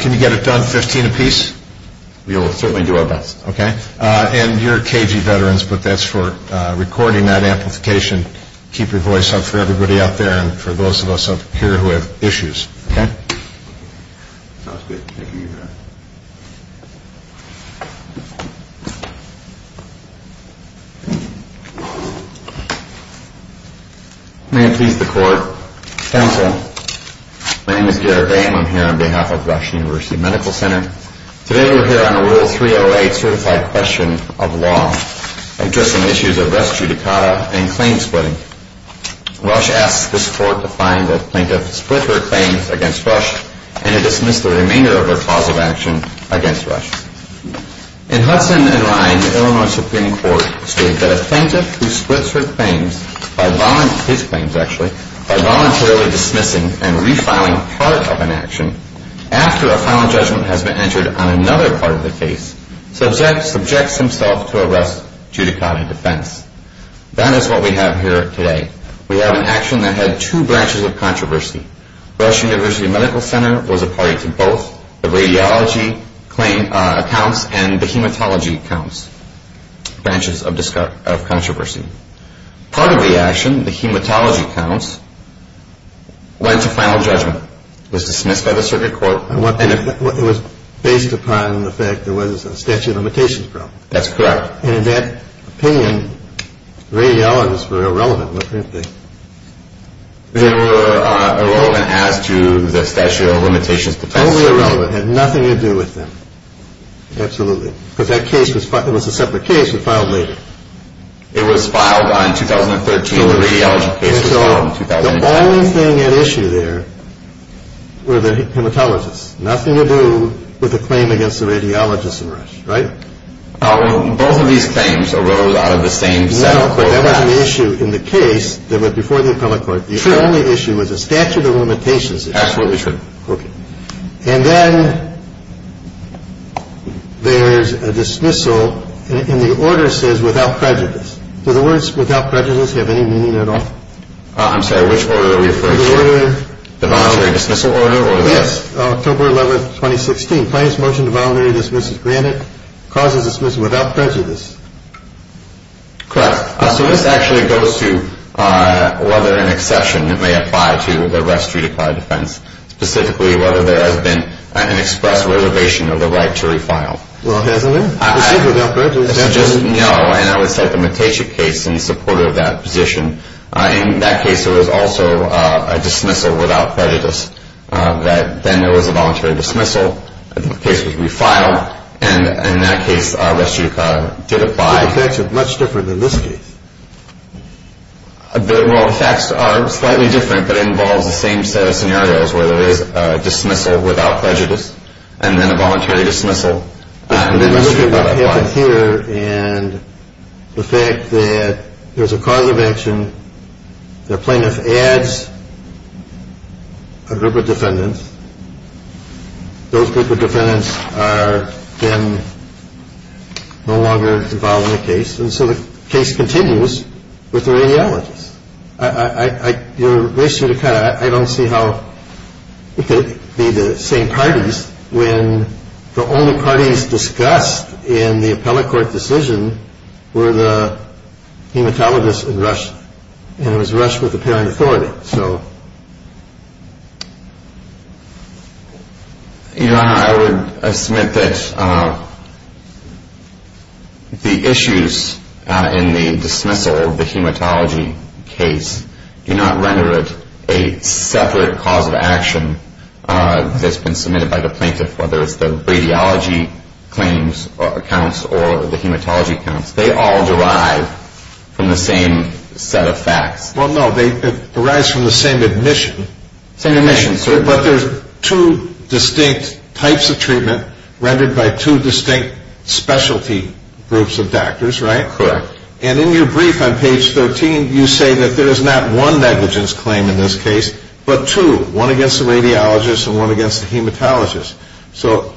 Can you get it done, 15 apiece? We will certainly do our best. And you're KG veterans, but that's for recording that amplification. And keep your voice up for everybody out there and for those of us up here who have issues, okay? Sounds good. Thank you, Your Honor. May it please the Court. Counsel, my name is Garrett Bain. I'm here on behalf of Rush University Medical Center. Today we're here on a Rule 308 certified question of law addressing issues of rest judicata and claim splitting. Rush asked this Court to find a plaintiff who split her claims against Rush and to dismiss the remainder of her cause of action against Rush. In Hudson and Ryan, the Illinois Supreme Court states that a plaintiff who splits her claims, his claims actually, by voluntarily dismissing and refiling part of an action after a final judgment has been entered on another part of the case subjects himself to a rest judicata defense. That is what we have here today. We have an action that had two branches of controversy. Rush University Medical Center was a party to both the radiology accounts and the hematology accounts, branches of controversy. Part of the action, the hematology accounts, went to final judgment, was dismissed by the circuit court. It was based upon the fact there was a statute of limitations problem. That's correct. And in that opinion, radiologists were irrelevant. They were irrelevant as to the statute of limitations defense. Totally irrelevant, had nothing to do with them. Absolutely. Because that case was a separate case that was filed later. It was filed on 2013. The radiology case was filed in 2010. The only thing at issue there were the hematologists. Nothing to do with the claim against the radiologists in Rush, right? Both of these claims arose out of the same set of claims. No, but that wasn't the issue in the case that went before the appellate court. The only issue was the statute of limitations issue. Absolutely true. Okay. And then there's a dismissal, and the order says without prejudice. Do the words without prejudice have any meaning at all? I'm sorry. Which order are we referring to? The voluntary dismissal order. Yes. October 11, 2016. Claims motion to voluntary dismissal granted. Causes dismissal without prejudice. Correct. So this actually goes to whether an exception may apply to the rest of the defense, specifically whether there has been an express reservation of the right to refile. Well, it hasn't been. It says without prejudice. No. And I would cite the Matejic case in support of that position. In that case, there was also a dismissal without prejudice. Then there was a voluntary dismissal. The case was refiled. And in that case, res judicata did apply. But the facts are much different than this case. Well, the facts are slightly different, but it involves the same set of scenarios where there is a dismissal without prejudice and then a voluntary dismissal. And then you look at what happened here and the fact that there's a cause of action. The plaintiff adds a group of defendants. Those group of defendants are then no longer involved in the case. And so the case continues with the radiologists. I don't see how it could be the same parties when the only parties discussed in the appellate court decision were the hematologists in Russia. And it was Russia with the parent authority. Your Honor, I submit that the issues in the dismissal of the hematology case do not render it a separate cause of action that's been submitted by the plaintiff, whether it's the radiology claims accounts or the hematology accounts. They all derive from the same set of facts. Well, no, it derives from the same admission. Same admission. But there's two distinct types of treatment rendered by two distinct specialty groups of doctors, right? Correct. And in your brief on page 13, you say that there is not one negligence claim in this case, but two, one against the radiologists and one against the hematologists. So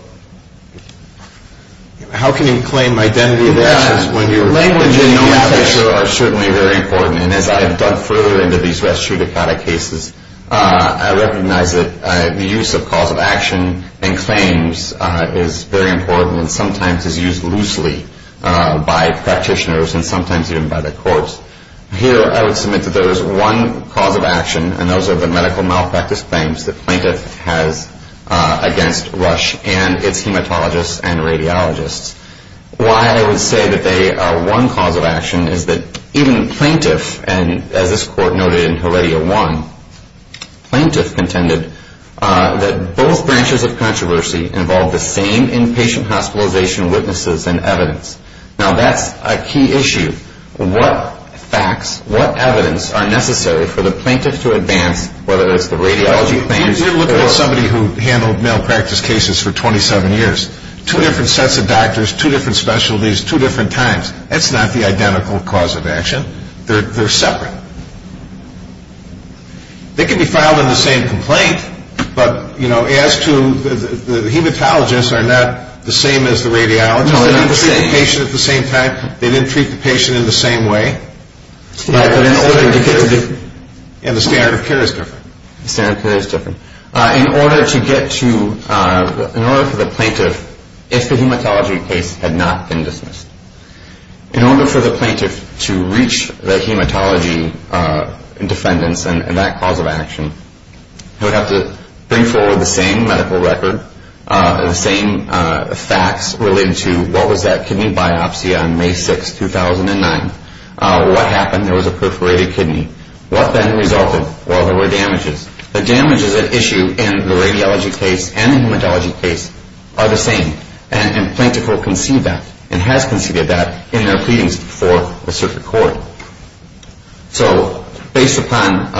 how can you claim identity of assets when your language and notation are certainly very important? And as I've dug further into these Rastrudicata cases, I recognize that the use of cause of action and claims is very important and sometimes is used loosely by practitioners and sometimes even by the courts. Here I would submit that there is one cause of action, and those are the medical malpractice claims the plaintiff has against Rush and its hematologists and radiologists. Why I would say that they are one cause of action is that even plaintiff, and as this court noted in Heredia 1, plaintiff contended that both branches of controversy involve the same inpatient hospitalization witnesses and evidence. Now, that's a key issue. What facts, what evidence are necessary for the plaintiff to advance, whether it's the radiology claims or... If you look at somebody who handled malpractice cases for 27 years, two different sets of doctors, two different specialties, two different times, that's not the identical cause of action. They're separate. They can be filed in the same complaint, but as to the hematologists are not the same as the radiologists. They didn't treat the patient at the same time. They didn't treat the patient in the same way. And the standard of care is different. The standard of care is different. In order to get to... In order for the plaintiff, if the hematology case had not been dismissed, in order for the plaintiff to reach the hematology defendants and that cause of action, he would have to bring forward the same medical record, the same facts related to what was that kidney biopsy on May 6, 2009, what happened, there was a perforated kidney. What then resulted? Well, there were damages. The damages at issue in the radiology case and the hematology case are the same, and plaintiff will concede that and has conceded that in their pleadings before a circuit court. So based upon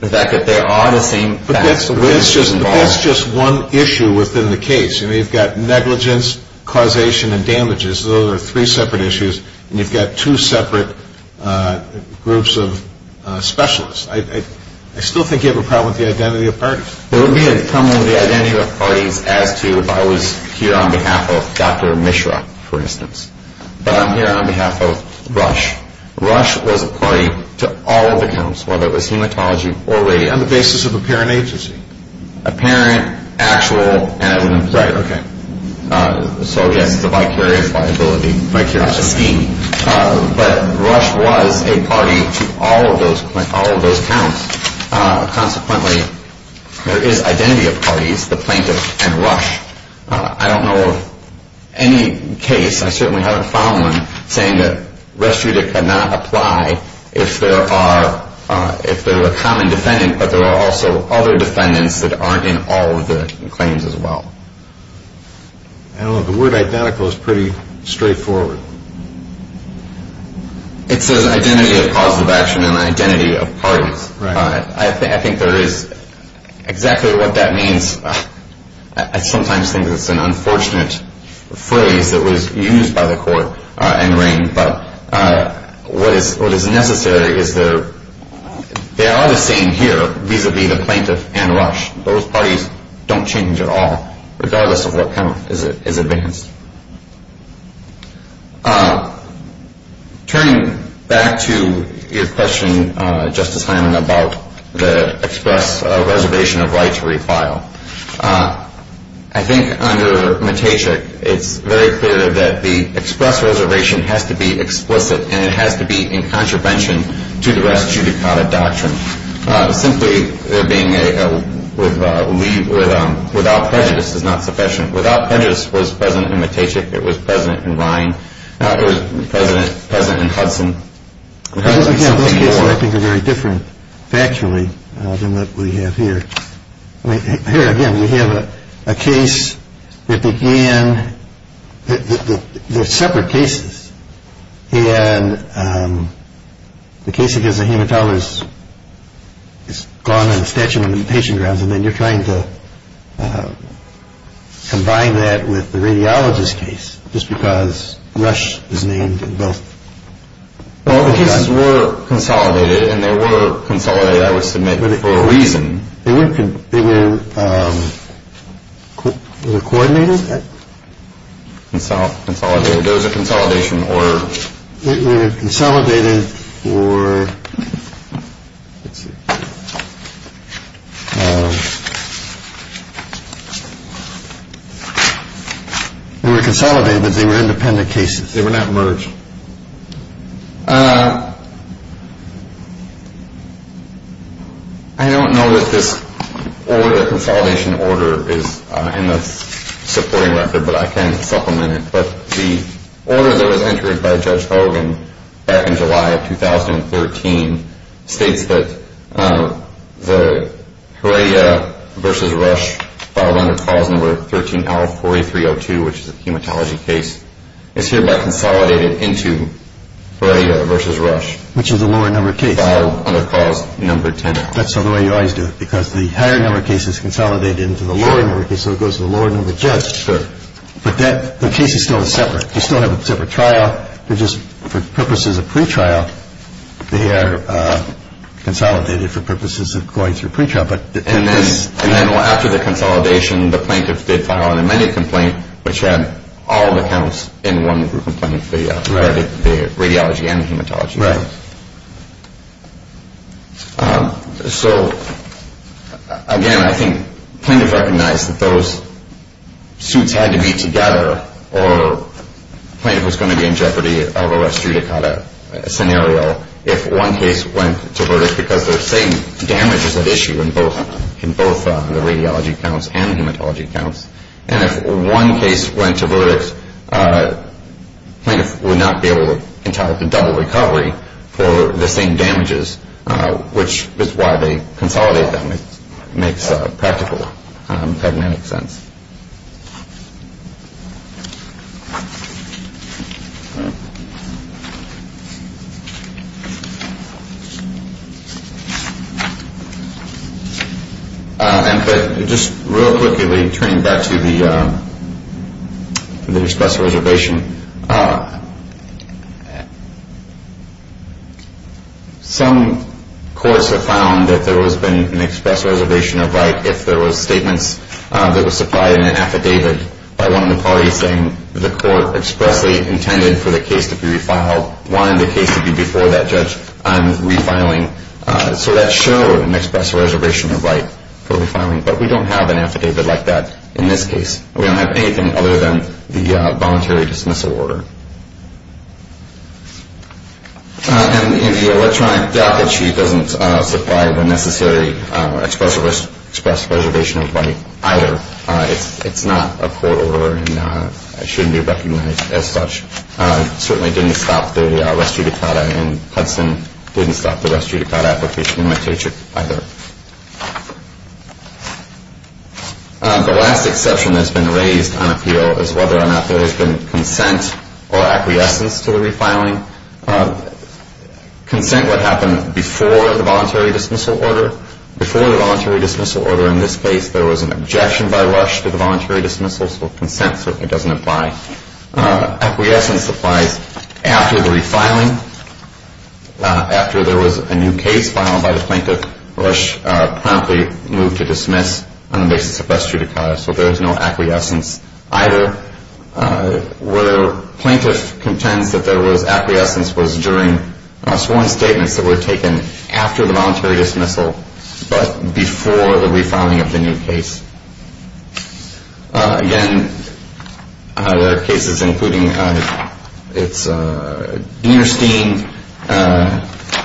the fact that there are the same facts... But that's just one issue within the case. I mean, you've got negligence, causation, and damages. Those are three separate issues, and you've got two separate groups of specialists. I still think you have a problem with the identity of parties. There would be a problem with the identity of parties as to if I was here on behalf of Dr. Mishra, for instance, but I'm here on behalf of Rush. Rush was a party to all of the counts, whether it was hematology or radiology. On the basis of apparent agency. Apparent, actual, and... Right, okay. So, yes, it's a vicarious liability, vicarious scheme. But Rush was a party to all of those counts. Consequently, there is identity of parties, the plaintiff and Rush. I don't know of any case, I certainly haven't found one, saying that res judic cannot apply if there are a common defendant, but there are also other defendants that aren't in all of the claims as well. I don't know, the word identical is pretty straightforward. It says identity of positive action and identity of parties. Right. I think there is exactly what that means. I sometimes think it's an unfortunate phrase that was used by the court in rain, but what is necessary is there are the same here vis-à-vis the plaintiff and Rush. Those parties don't change at all, regardless of what count is advanced. Turning back to your question, Justice Hyman, about the express reservation of right to refile. I think under Mateshuk, it's very clear that the express reservation has to be explicit and it has to be in contravention to the res judicata doctrine. Simply there being a without prejudice is not sufficient. Without prejudice was present in Mateshuk. It was present in Ryan. It was present in Hudson. Again, those cases I think are very different factually than what we have here. Here again, we have a case that began, they're separate cases, and the case against the hematologist is gone in the statute of limitations grounds and then you're trying to combine that with the radiologist case just because Rush is named in both. Well, the cases were consolidated and they were consolidated, I would submit, for a reason. They were coordinated? There was a consolidation order. They were consolidated for, let's see. They were consolidated but they were independent cases. They were not merged. I don't know that this order, consolidation order, is in the supporting record, but I can supplement it. But the order that was entered by Judge Hogan back in July of 2013 states that the Heredia v. Rush filed under clause number 13L4302, which is a hematology case, is hereby consolidated into Heredia v. Rush. Which is a lower number case. Filed under clause number 10L. That's the way you always do it because the higher number case is consolidated into the lower number case, so it goes to the lower number judge. Sure. But the case is still separate. You still have a separate trial. They're just, for purposes of pretrial, they are consolidated for purposes of going through pretrial. And then after the consolidation, the plaintiffs did file an amended complaint, which had all the counts in one complaint, the radiology and hematology. Right. So, again, I think plaintiffs recognized that those suits had to be together or a plaintiff was going to be in jeopardy of a restitutacata scenario if one case went to verdict because they're saying damage is at issue in both the radiology counts and hematology counts. And if one case went to verdict, plaintiffs would not be able to entitle to double recovery for the same damages, which is why they consolidated them. It makes practical, pragmatic sense. All right. And just real quickly, turning back to the express reservation, some courts have found that there has been an express reservation of right if there were statements that were supplied in an affidavit by one of the parties saying the court expressly intended for the case to be refiled, wanted the case to be before that judge on refiling. So that showed an express reservation of right for refiling. But we don't have an affidavit like that in this case. We don't have anything other than the voluntary dismissal order. And the electronic docket sheet doesn't supply the necessary express reservation of right either. It's not a court order and it shouldn't be recognized as such. It certainly didn't stop the restitutacata, and Hudson didn't stop the restitutacata application in my case either. The last exception that has been raised on appeal is whether or not there has been consent or acquiescence to the refiling. Consent would happen before the voluntary dismissal order. Before the voluntary dismissal order in this case, there was an objection by Rush to the voluntary dismissal. So consent certainly doesn't apply. Acquiescence applies after the refiling. After there was a new case filed by the plaintiff, Rush promptly moved to dismiss on the basis of restitutacata. So there is no acquiescence either. Where the plaintiff contends that there was acquiescence was during sworn statements that were taken after the voluntary dismissal, but before the refiling of the new case. Again, there are cases including Dinerstein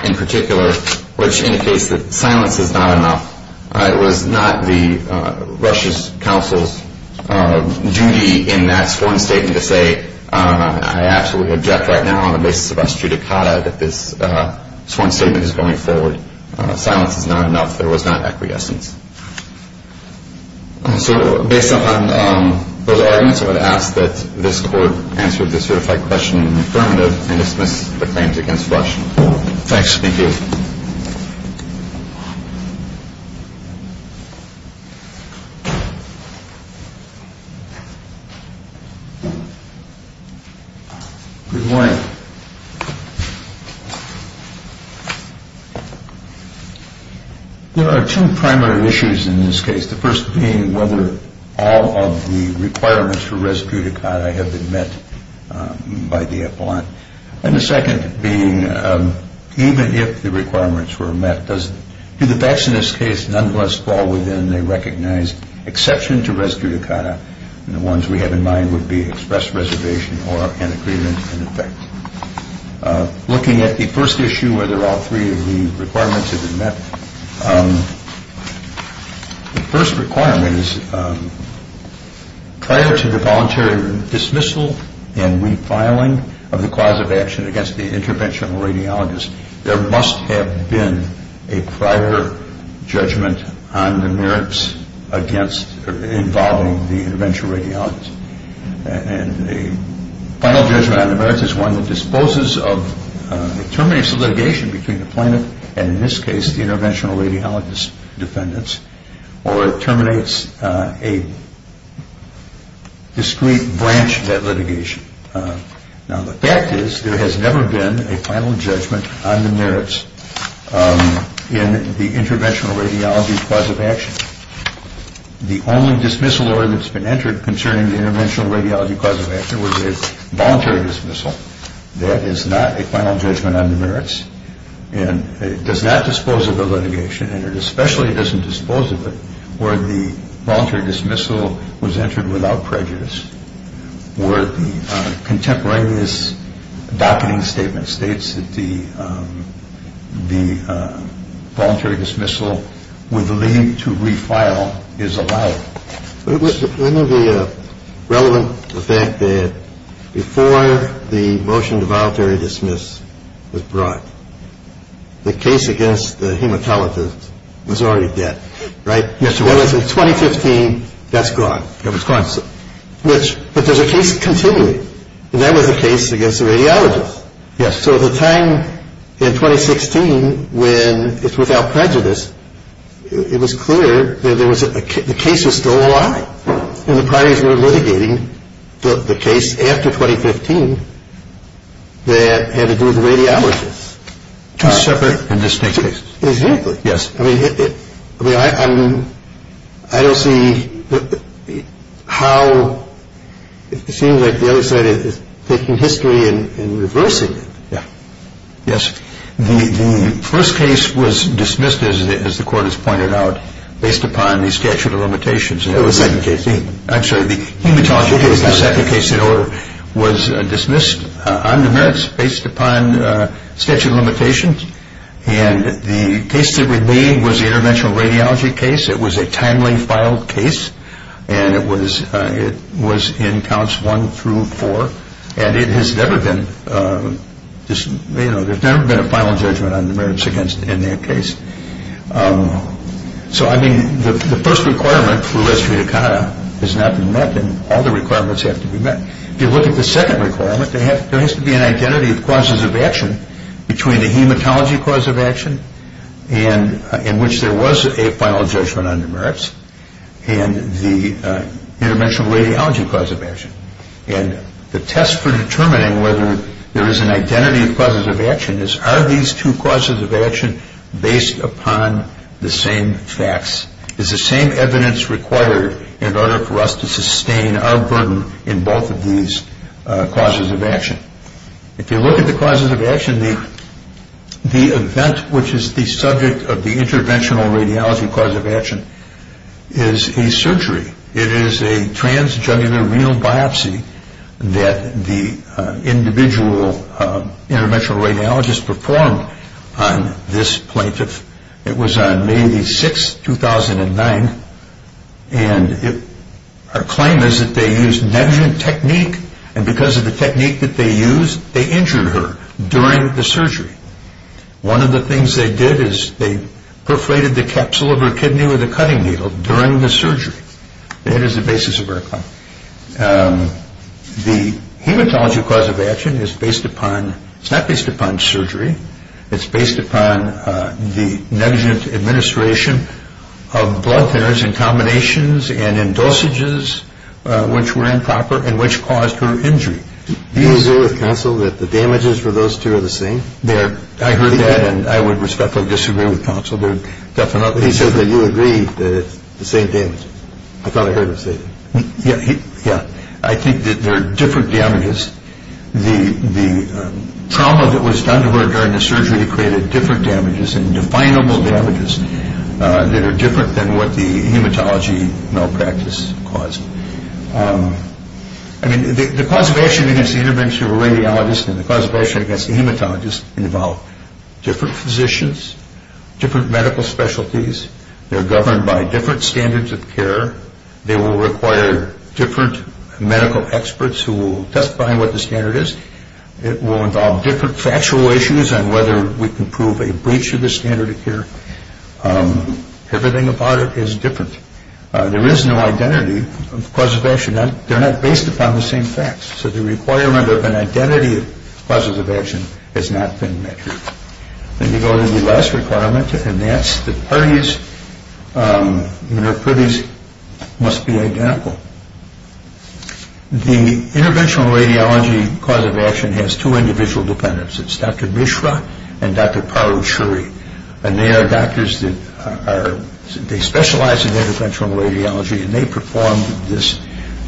in particular, which indicates that silence is not enough. It was not the Rush's counsel's duty in that sworn statement to say, I absolutely object right now on the basis of restitutacata that this sworn statement is going forward. Silence is not enough. There was not acquiescence. So based on those arguments, I would ask that this Court answer the certified question in the affirmative and dismiss the claims against Rush. Thank you. Good morning. There are two primary issues in this case. The first being whether all of the requirements for restitutacata have been met by the appellant. And the second being even if the requirements were met, do the facts in this case nonetheless fall within a recognized exception to restitutacata? And the ones we have in mind would be express reservation or an agreement in effect. Looking at the first issue, whether all three of the requirements have been met, the first requirement is prior to the voluntary dismissal and refiling of the cause of action against the interventional radiologist, there must have been a prior judgment on the merits involving the interventional radiologist. And the final judgment on the merits is one that disposes of a termination of litigation between the plaintiff and in this case the interventional radiologist defendants, or it terminates a discrete branch of that litigation. Now the fact is there has never been a final judgment on the merits in the interventional radiology cause of action. The only dismissal order that's been entered concerning the interventional radiology cause of action was a voluntary dismissal. That is not a final judgment on the merits and it does not dispose of the litigation and it especially doesn't dispose of it where the voluntary dismissal was entered without prejudice, where the contemporaneous docketing statement states that the voluntary dismissal with the lien to refile is allowed. I know the relevant fact that before the motion to voluntary dismiss was brought, the case against the hematologist was already dead, right? Yes, it was. In 2015, that's gone. It was gone. But there's a case continuing and that was a case against the radiologist. Yes. So at the time in 2016 when it's without prejudice, it was clear that the case was still alive and the parties were litigating the case after 2015 that had to do with the radiologist. Two separate and distinct cases. Exactly. Yes. I don't see how it seems like the other side is taking history and reversing it. Yes. The first case was dismissed as the court has pointed out based upon the statute of limitations. It was second case. I'm sorry, the hematology case, the second case in order, was dismissed on the merits based upon statute of limitations and the case that remained was the interventional radiology case. It was a timely filed case and it was in counts one through four and there's never been a final judgment on the merits in that case. So I mean the first requirement for less free to conduct has not been met and all the requirements have to be met. If you look at the second requirement, there has to be an identity of causes of action between the hematology cause of action in which there was a final judgment on the merits and the interventional radiology cause of action. And the test for determining whether there is an identity of causes of action is are these two causes of action based upon the same facts? Is the same evidence required in order for us to sustain our burden in both of these causes of action? If you look at the causes of action, the event which is the subject of the interventional radiology cause of action is a surgery. It is a transgenular renal biopsy that the individual interventional radiologist performed on this plaintiff. It was on May 6, 2009 and our claim is that they used negligent technique and because of the technique that they used, they injured her during the surgery. One of the things they did is they perforated the capsule of her kidney with a cutting needle during the surgery. That is the basis of our claim. The hematology cause of action is based upon, it's not based upon surgery, it's based upon the negligent administration of blood thinners in combinations and in dosages which were improper and which caused her injury. Do you agree with counsel that the damages for those two are the same? I heard that and I would respectfully disagree with counsel. He says that you agree that it's the same damage. I thought I heard him say that. Yeah, I think that there are different damages. The trauma that was done to her during the surgery created different damages and definable damages that are different than what the hematology malpractice caused. I mean, the cause of action against the interventional radiologist and the cause of action against the hematologist involve different physicians, different medical specialties. They're governed by different standards of care. They will require different medical experts who will testify on what the standard is. It will involve different factual issues on whether we can prove a breach of the standard of care. Everything about it is different. There is no identity of cause of action. They're not based upon the same facts. So the requirement of an identity of causes of action has not been met. Then you go to the last requirement, and that's that parties and their privies must be identical. The interventional radiology cause of action has two individual defendants. It's Dr. Mishra and Dr. Paro Shuri, and they are doctors that specialize in interventional radiology, and they performed this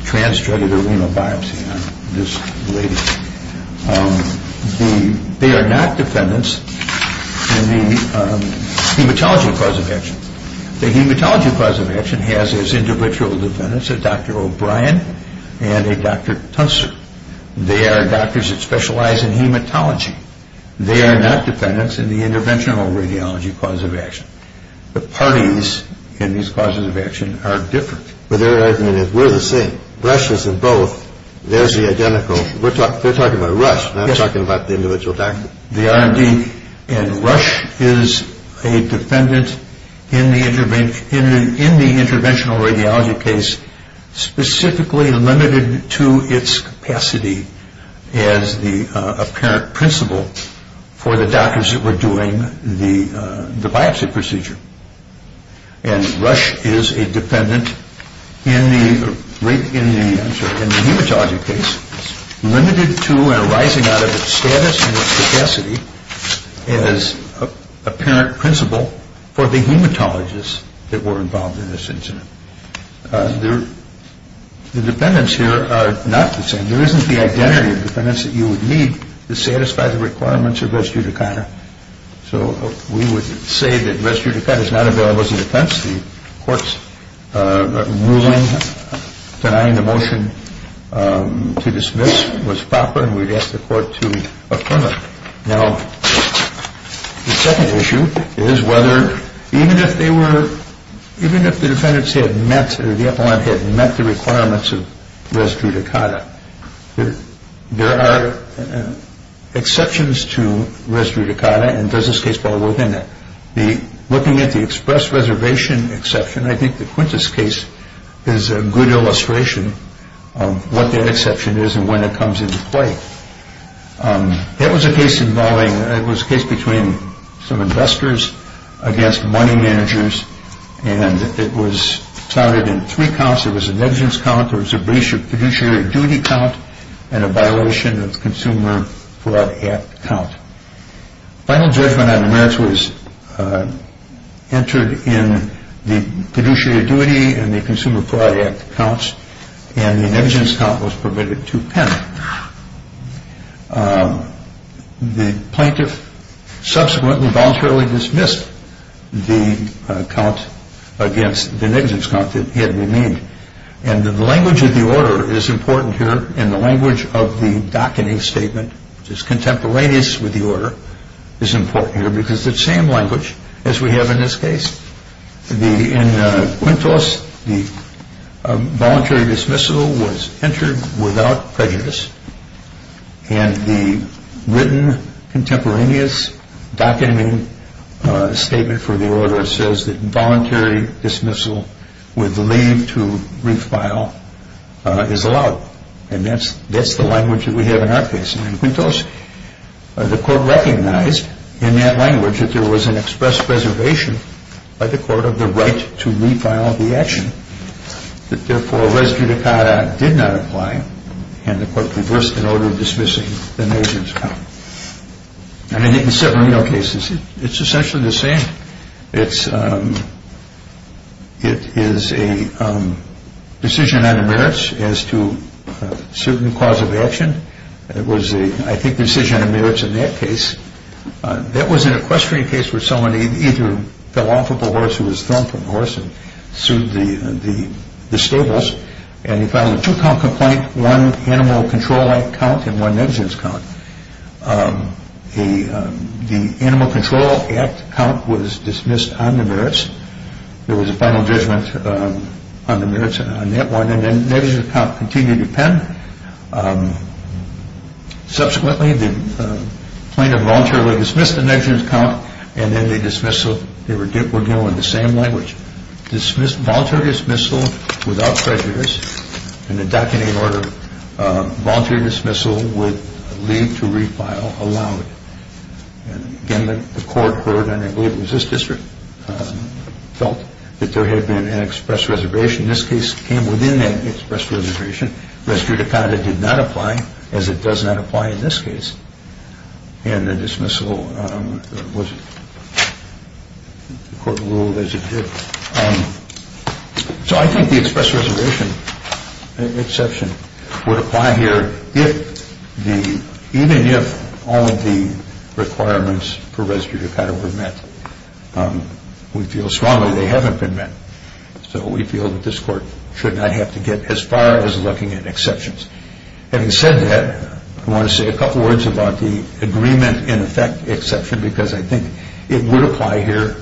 trans-jointed renal biopsy on this lady. They are not defendants in the hematology cause of action. The hematology cause of action has its individual defendants, a Dr. O'Brien and a Dr. Tunster. They are doctors that specialize in hematology. They are not defendants in the interventional radiology cause of action. The parties in these causes of action are different. But their argument is we're the same. So Rush is in both. There's the identical. They're talking about Rush, not talking about the individual doctor. The R&D, and Rush is a defendant in the interventional radiology case specifically limited to its capacity as the apparent principal for the doctors that were doing the biopsy procedure. And Rush is a defendant in the hematology case limited to and arising out of its status and its capacity as apparent principal for the hematologists that were involved in this incident. The defendants here are not the same. There isn't the identity of defendants that you would need to satisfy the requirements of res judicata. So we would say that res judicata is not available as a defense. The court's ruling denying the motion to dismiss was proper, and we'd ask the court to affirm it. Now, the second issue is whether even if the defendants had met or the appellant had met the requirements of res judicata, there are exceptions to res judicata, and does this case fall within that? Looking at the express reservation exception, I think the Quintus case is a good illustration of what that exception is and when it comes into play. That was a case involving, it was a case between some investors against money managers, and it was counted in three counts. There was a negligence count, there was a breach of fiduciary duty count, and a violation of the Consumer Fraud Act count. Final judgment on the merits was entered in the fiduciary duty and the Consumer Fraud Act counts, and the negligence count was permitted to pen. The plaintiff subsequently voluntarily dismissed the count against the negligence count that had remained, and the language of the order is important here, and the language of the docketing statement, which is contemporaneous with the order, is important here because it's the same language as we have in this case. In Quintus, the voluntary dismissal was entered without prejudice, and the written contemporaneous docketing statement for the order says that voluntary dismissal with leave to refile is allowed, and that's the language that we have in our case. In Quintus, the court recognized in that language that there was an express preservation by the court of the right to refile the action, that therefore res judicata did not apply, and the court reversed an order dismissing the negligence count. And I think in several other cases, it's essentially the same. It is a decision on the merits as to suit and cause of action. It was a, I think, decision on the merits in that case. That was an equestrian case where someone either fell off of a horse who was thrown from the horse and sued the stables, and he filed a two-count complaint, one Animal Control Act count and one negligence count. The Animal Control Act count was dismissed on the merits. There was a final judgment on the merits on that one, and then negligence count continued to append. Subsequently, the plaintiff voluntarily dismissed the negligence count, and then they dismissed, so we're dealing with the same language. Voluntary dismissal without prejudice in the docketing order. Voluntary dismissal with leave to refile allowed. Again, the court heard, and I believe it was this district, felt that there had been an express reservation. This case came within an express reservation. Res judicata did not apply, as it does not apply in this case. And the dismissal was court ruled as it did. So I think the express reservation exception would apply here even if all of the requirements for res judicata were met. We feel strongly they haven't been met, so we feel that this court should not have to get as far as looking at exceptions. Having said that, I want to say a couple words about the agreement in effect exception because I think it would apply here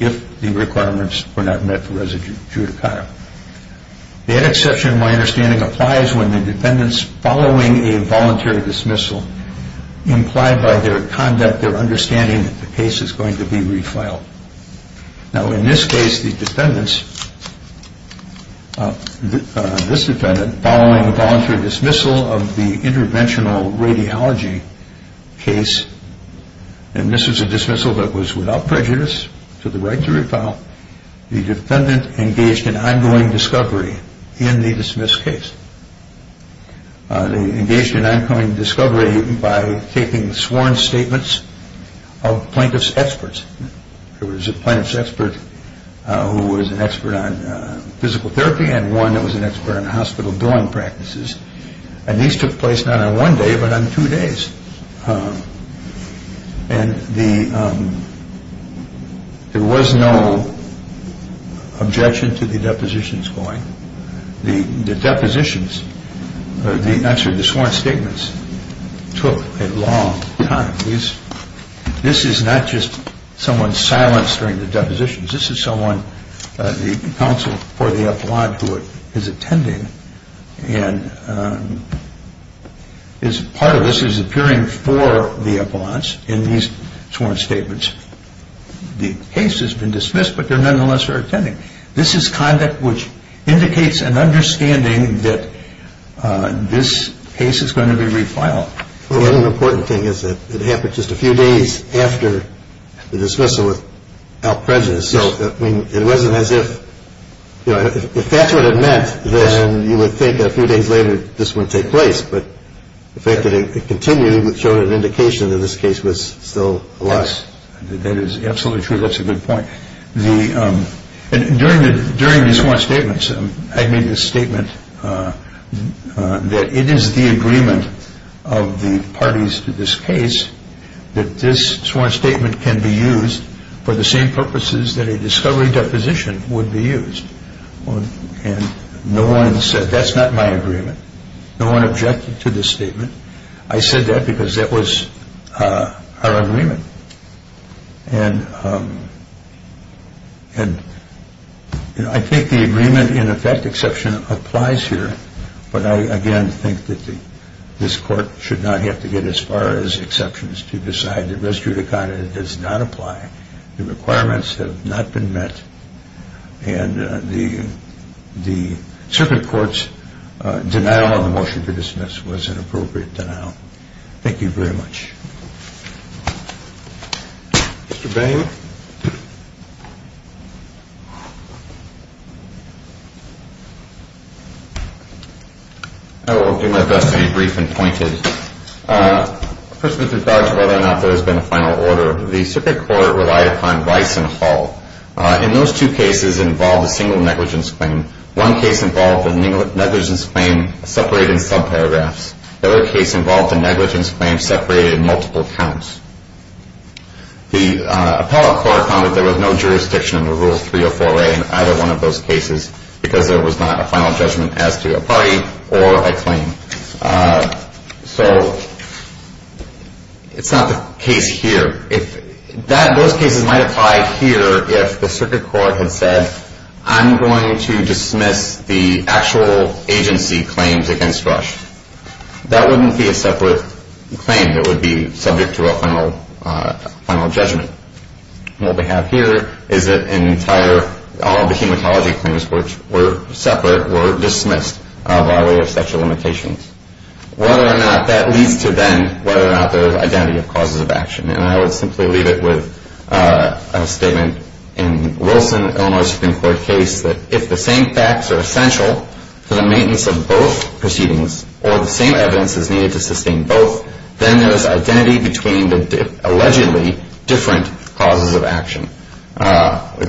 if the requirements were not met for res judicata. That exception, my understanding, applies when the defendants following a voluntary dismissal implied by their conduct their understanding that the case is going to be refiled. Now, in this case, the defendants, this defendant, following a voluntary dismissal of the interventional radiology case, and this was a dismissal that was without prejudice to the right to refile, the defendant engaged in ongoing discovery in the dismissed case. They engaged in ongoing discovery by taking sworn statements of plaintiff's experts. There was a plaintiff's expert who was an expert on physical therapy and one that was an expert on hospital billing practices. And these took place not on one day, but on two days. And there was no objection to the depositions going. The depositions, I'm sorry, the sworn statements took a long time. This is not just someone silenced during the depositions. This is someone, the counsel for the appellant who is attending and part of this is appearing for the appellants in these sworn statements. The case has been dismissed, but they nonetheless are attending. This is conduct which indicates an understanding that this case is going to be refiled. Well, an important thing is that it happened just a few days after the dismissal without prejudice. So it wasn't as if, you know, if that's what it meant, then you would think a few days later this wouldn't take place. But the fact that it continued showed an indication that this case was still alive. Yes, that is absolutely true. That's a good point. During the sworn statements, I made a statement that it is the agreement of the parties to this case that this sworn statement can be used for the same purposes that a discovery deposition would be used. And no one said that's not my agreement. No one objected to this statement. I said that because that was our agreement. And, you know, I think the agreement in effect exception applies here, but I again think that this court should not have to get as far as exceptions to decide that res judicata does not apply. The requirements have not been met, and the circuit court's denial of the motion to dismiss was an appropriate denial. Thank you very much. Mr. Bain. I will do my best to be brief and pointed. First of all, to judge whether or not there has been a final order, the circuit court relied upon Weiss and Hall. And those two cases involved a single negligence claim. One case involved a negligence claim separated in subparagraphs. The other case involved a negligence claim separated in multiple counts. The appellate court found that there was no jurisdiction under Rule 304A in either one of those cases because there was not a final judgment as to a party or a claim. So it's not the case here. Those cases might apply here if the circuit court had said, I'm going to dismiss the actual agency claims against Rush. That wouldn't be a separate claim. It would be subject to a final judgment. What we have here is an entire, all the hematology claims were separate, were dismissed by way of sexual limitations. Whether or not that leads to then whether or not there is identity of causes of action. And I would simply leave it with a statement in Wilson, Illinois Supreme Court case, that if the same facts are essential to the maintenance of both proceedings or the same evidence is needed to sustain both, then there is identity between the allegedly different causes of action. I've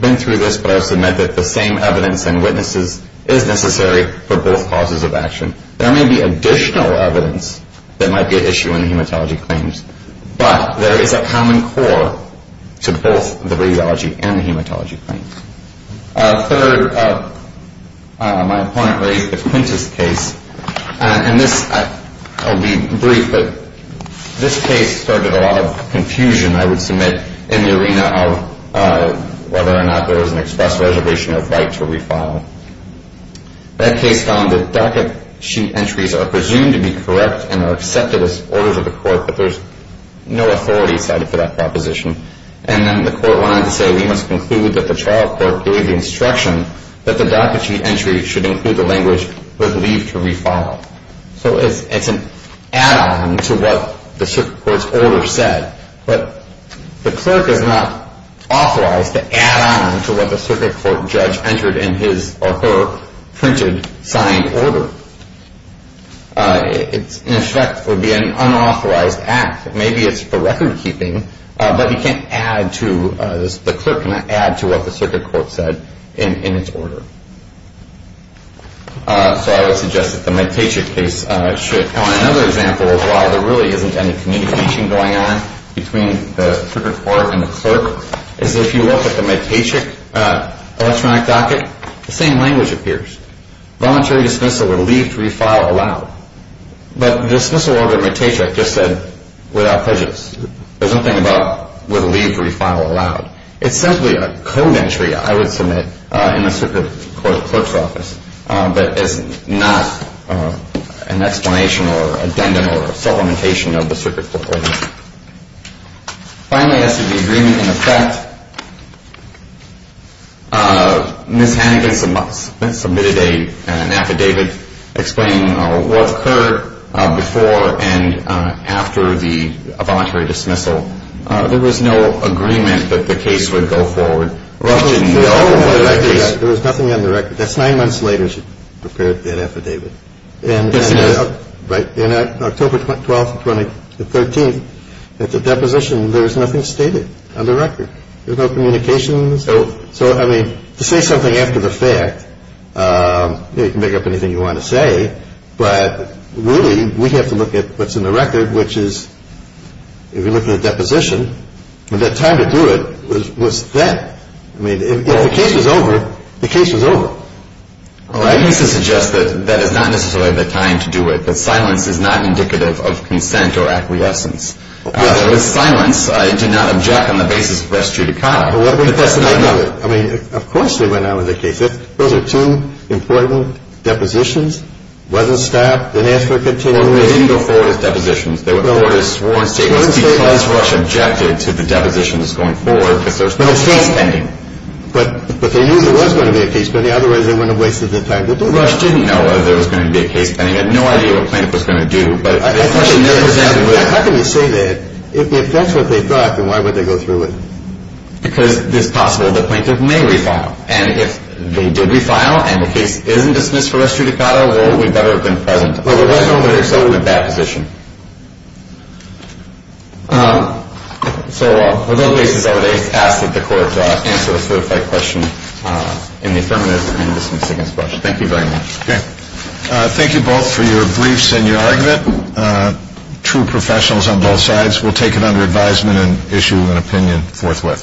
been through this, but I've submit that the same evidence and witnesses is necessary for both causes of action. There may be additional evidence that might be an issue in the hematology claims, but there is a common core to both the radiology and the hematology claims. Third, my opponent raised the Quintus case. And this, I'll be brief, but this case started a lot of confusion, I would submit, in the arena of whether or not there was an express reservation of right to refile. That case found that docket sheet entries are presumed to be correct and are accepted as orders of the court, but there's no authority cited for that proposition. And then the court went on to say, we must conclude that the trial court gave the instruction that the docket sheet entry should include the language, but leave to refile. So it's an add-on to what the circuit court's order said, but the clerk is not authorized to add on to what the circuit court judge entered in his or her printed, signed order. In effect, it would be an unauthorized act. Maybe it's for record-keeping, but he can't add to, the clerk cannot add to what the circuit court said in its order. So I would suggest that the Medtaychik case should. Now, another example of why there really isn't any communication going on between the circuit court and the clerk is if you look at the Medtaychik electronic docket, the same language appears. Voluntary dismissal or leave to refile allowed. But the dismissal order of Medtaychik just said without prejudice. There's nothing about with leave to refile allowed. It's simply a code entry, I would submit, in the circuit court clerk's office, but it's not an explanation or addendum or supplementation of the circuit court order. Finally, as to the agreement in effect, Ms. Hannigan submitted an affidavit explaining what occurred before and after the voluntary dismissal. There was no agreement that the case would go forward. There was nothing on the record. That's nine months later she prepared that affidavit. In October 12th and 13th, at the deposition, there was nothing stated on the record. There was no communication. So, I mean, to say something after the fact, you can make up anything you want to say, but really we have to look at what's in the record, which is if you look at the deposition, the time to do it was then. I mean, if the case was over, the case was over. Well, I used to suggest that that is not necessarily the time to do it, that silence is not indicative of consent or acquiescence. With silence, I did not object on the basis of rest judicata. But that's another. I mean, of course they went on with the case. Those are two important depositions. It wasn't stopped. It didn't ask for a continuation. Well, they didn't go forward as depositions. They went forward as sworn statements because Rush objected to the depositions going forward because there was no case pending. But they knew there was going to be a case pending. Otherwise, they wouldn't have wasted their time to do it. Rush didn't know that there was going to be a case pending. He had no idea what plaintiff was going to do. How can you say that? If that's what they thought, then why would they go through with it? Because it's possible the plaintiff may refile. And if they did refile and the case isn't dismissed for rest judicata, well, it would better have been present. Well, there was no witness. So it went to deposition. So with those cases, I would ask that the court answer the certified question in the affirmative and dismiss against Rush. Thank you very much. Okay. Thank you both for your briefs and your argument. True professionals on both sides. We'll take it under advisement and issue an opinion forthwith.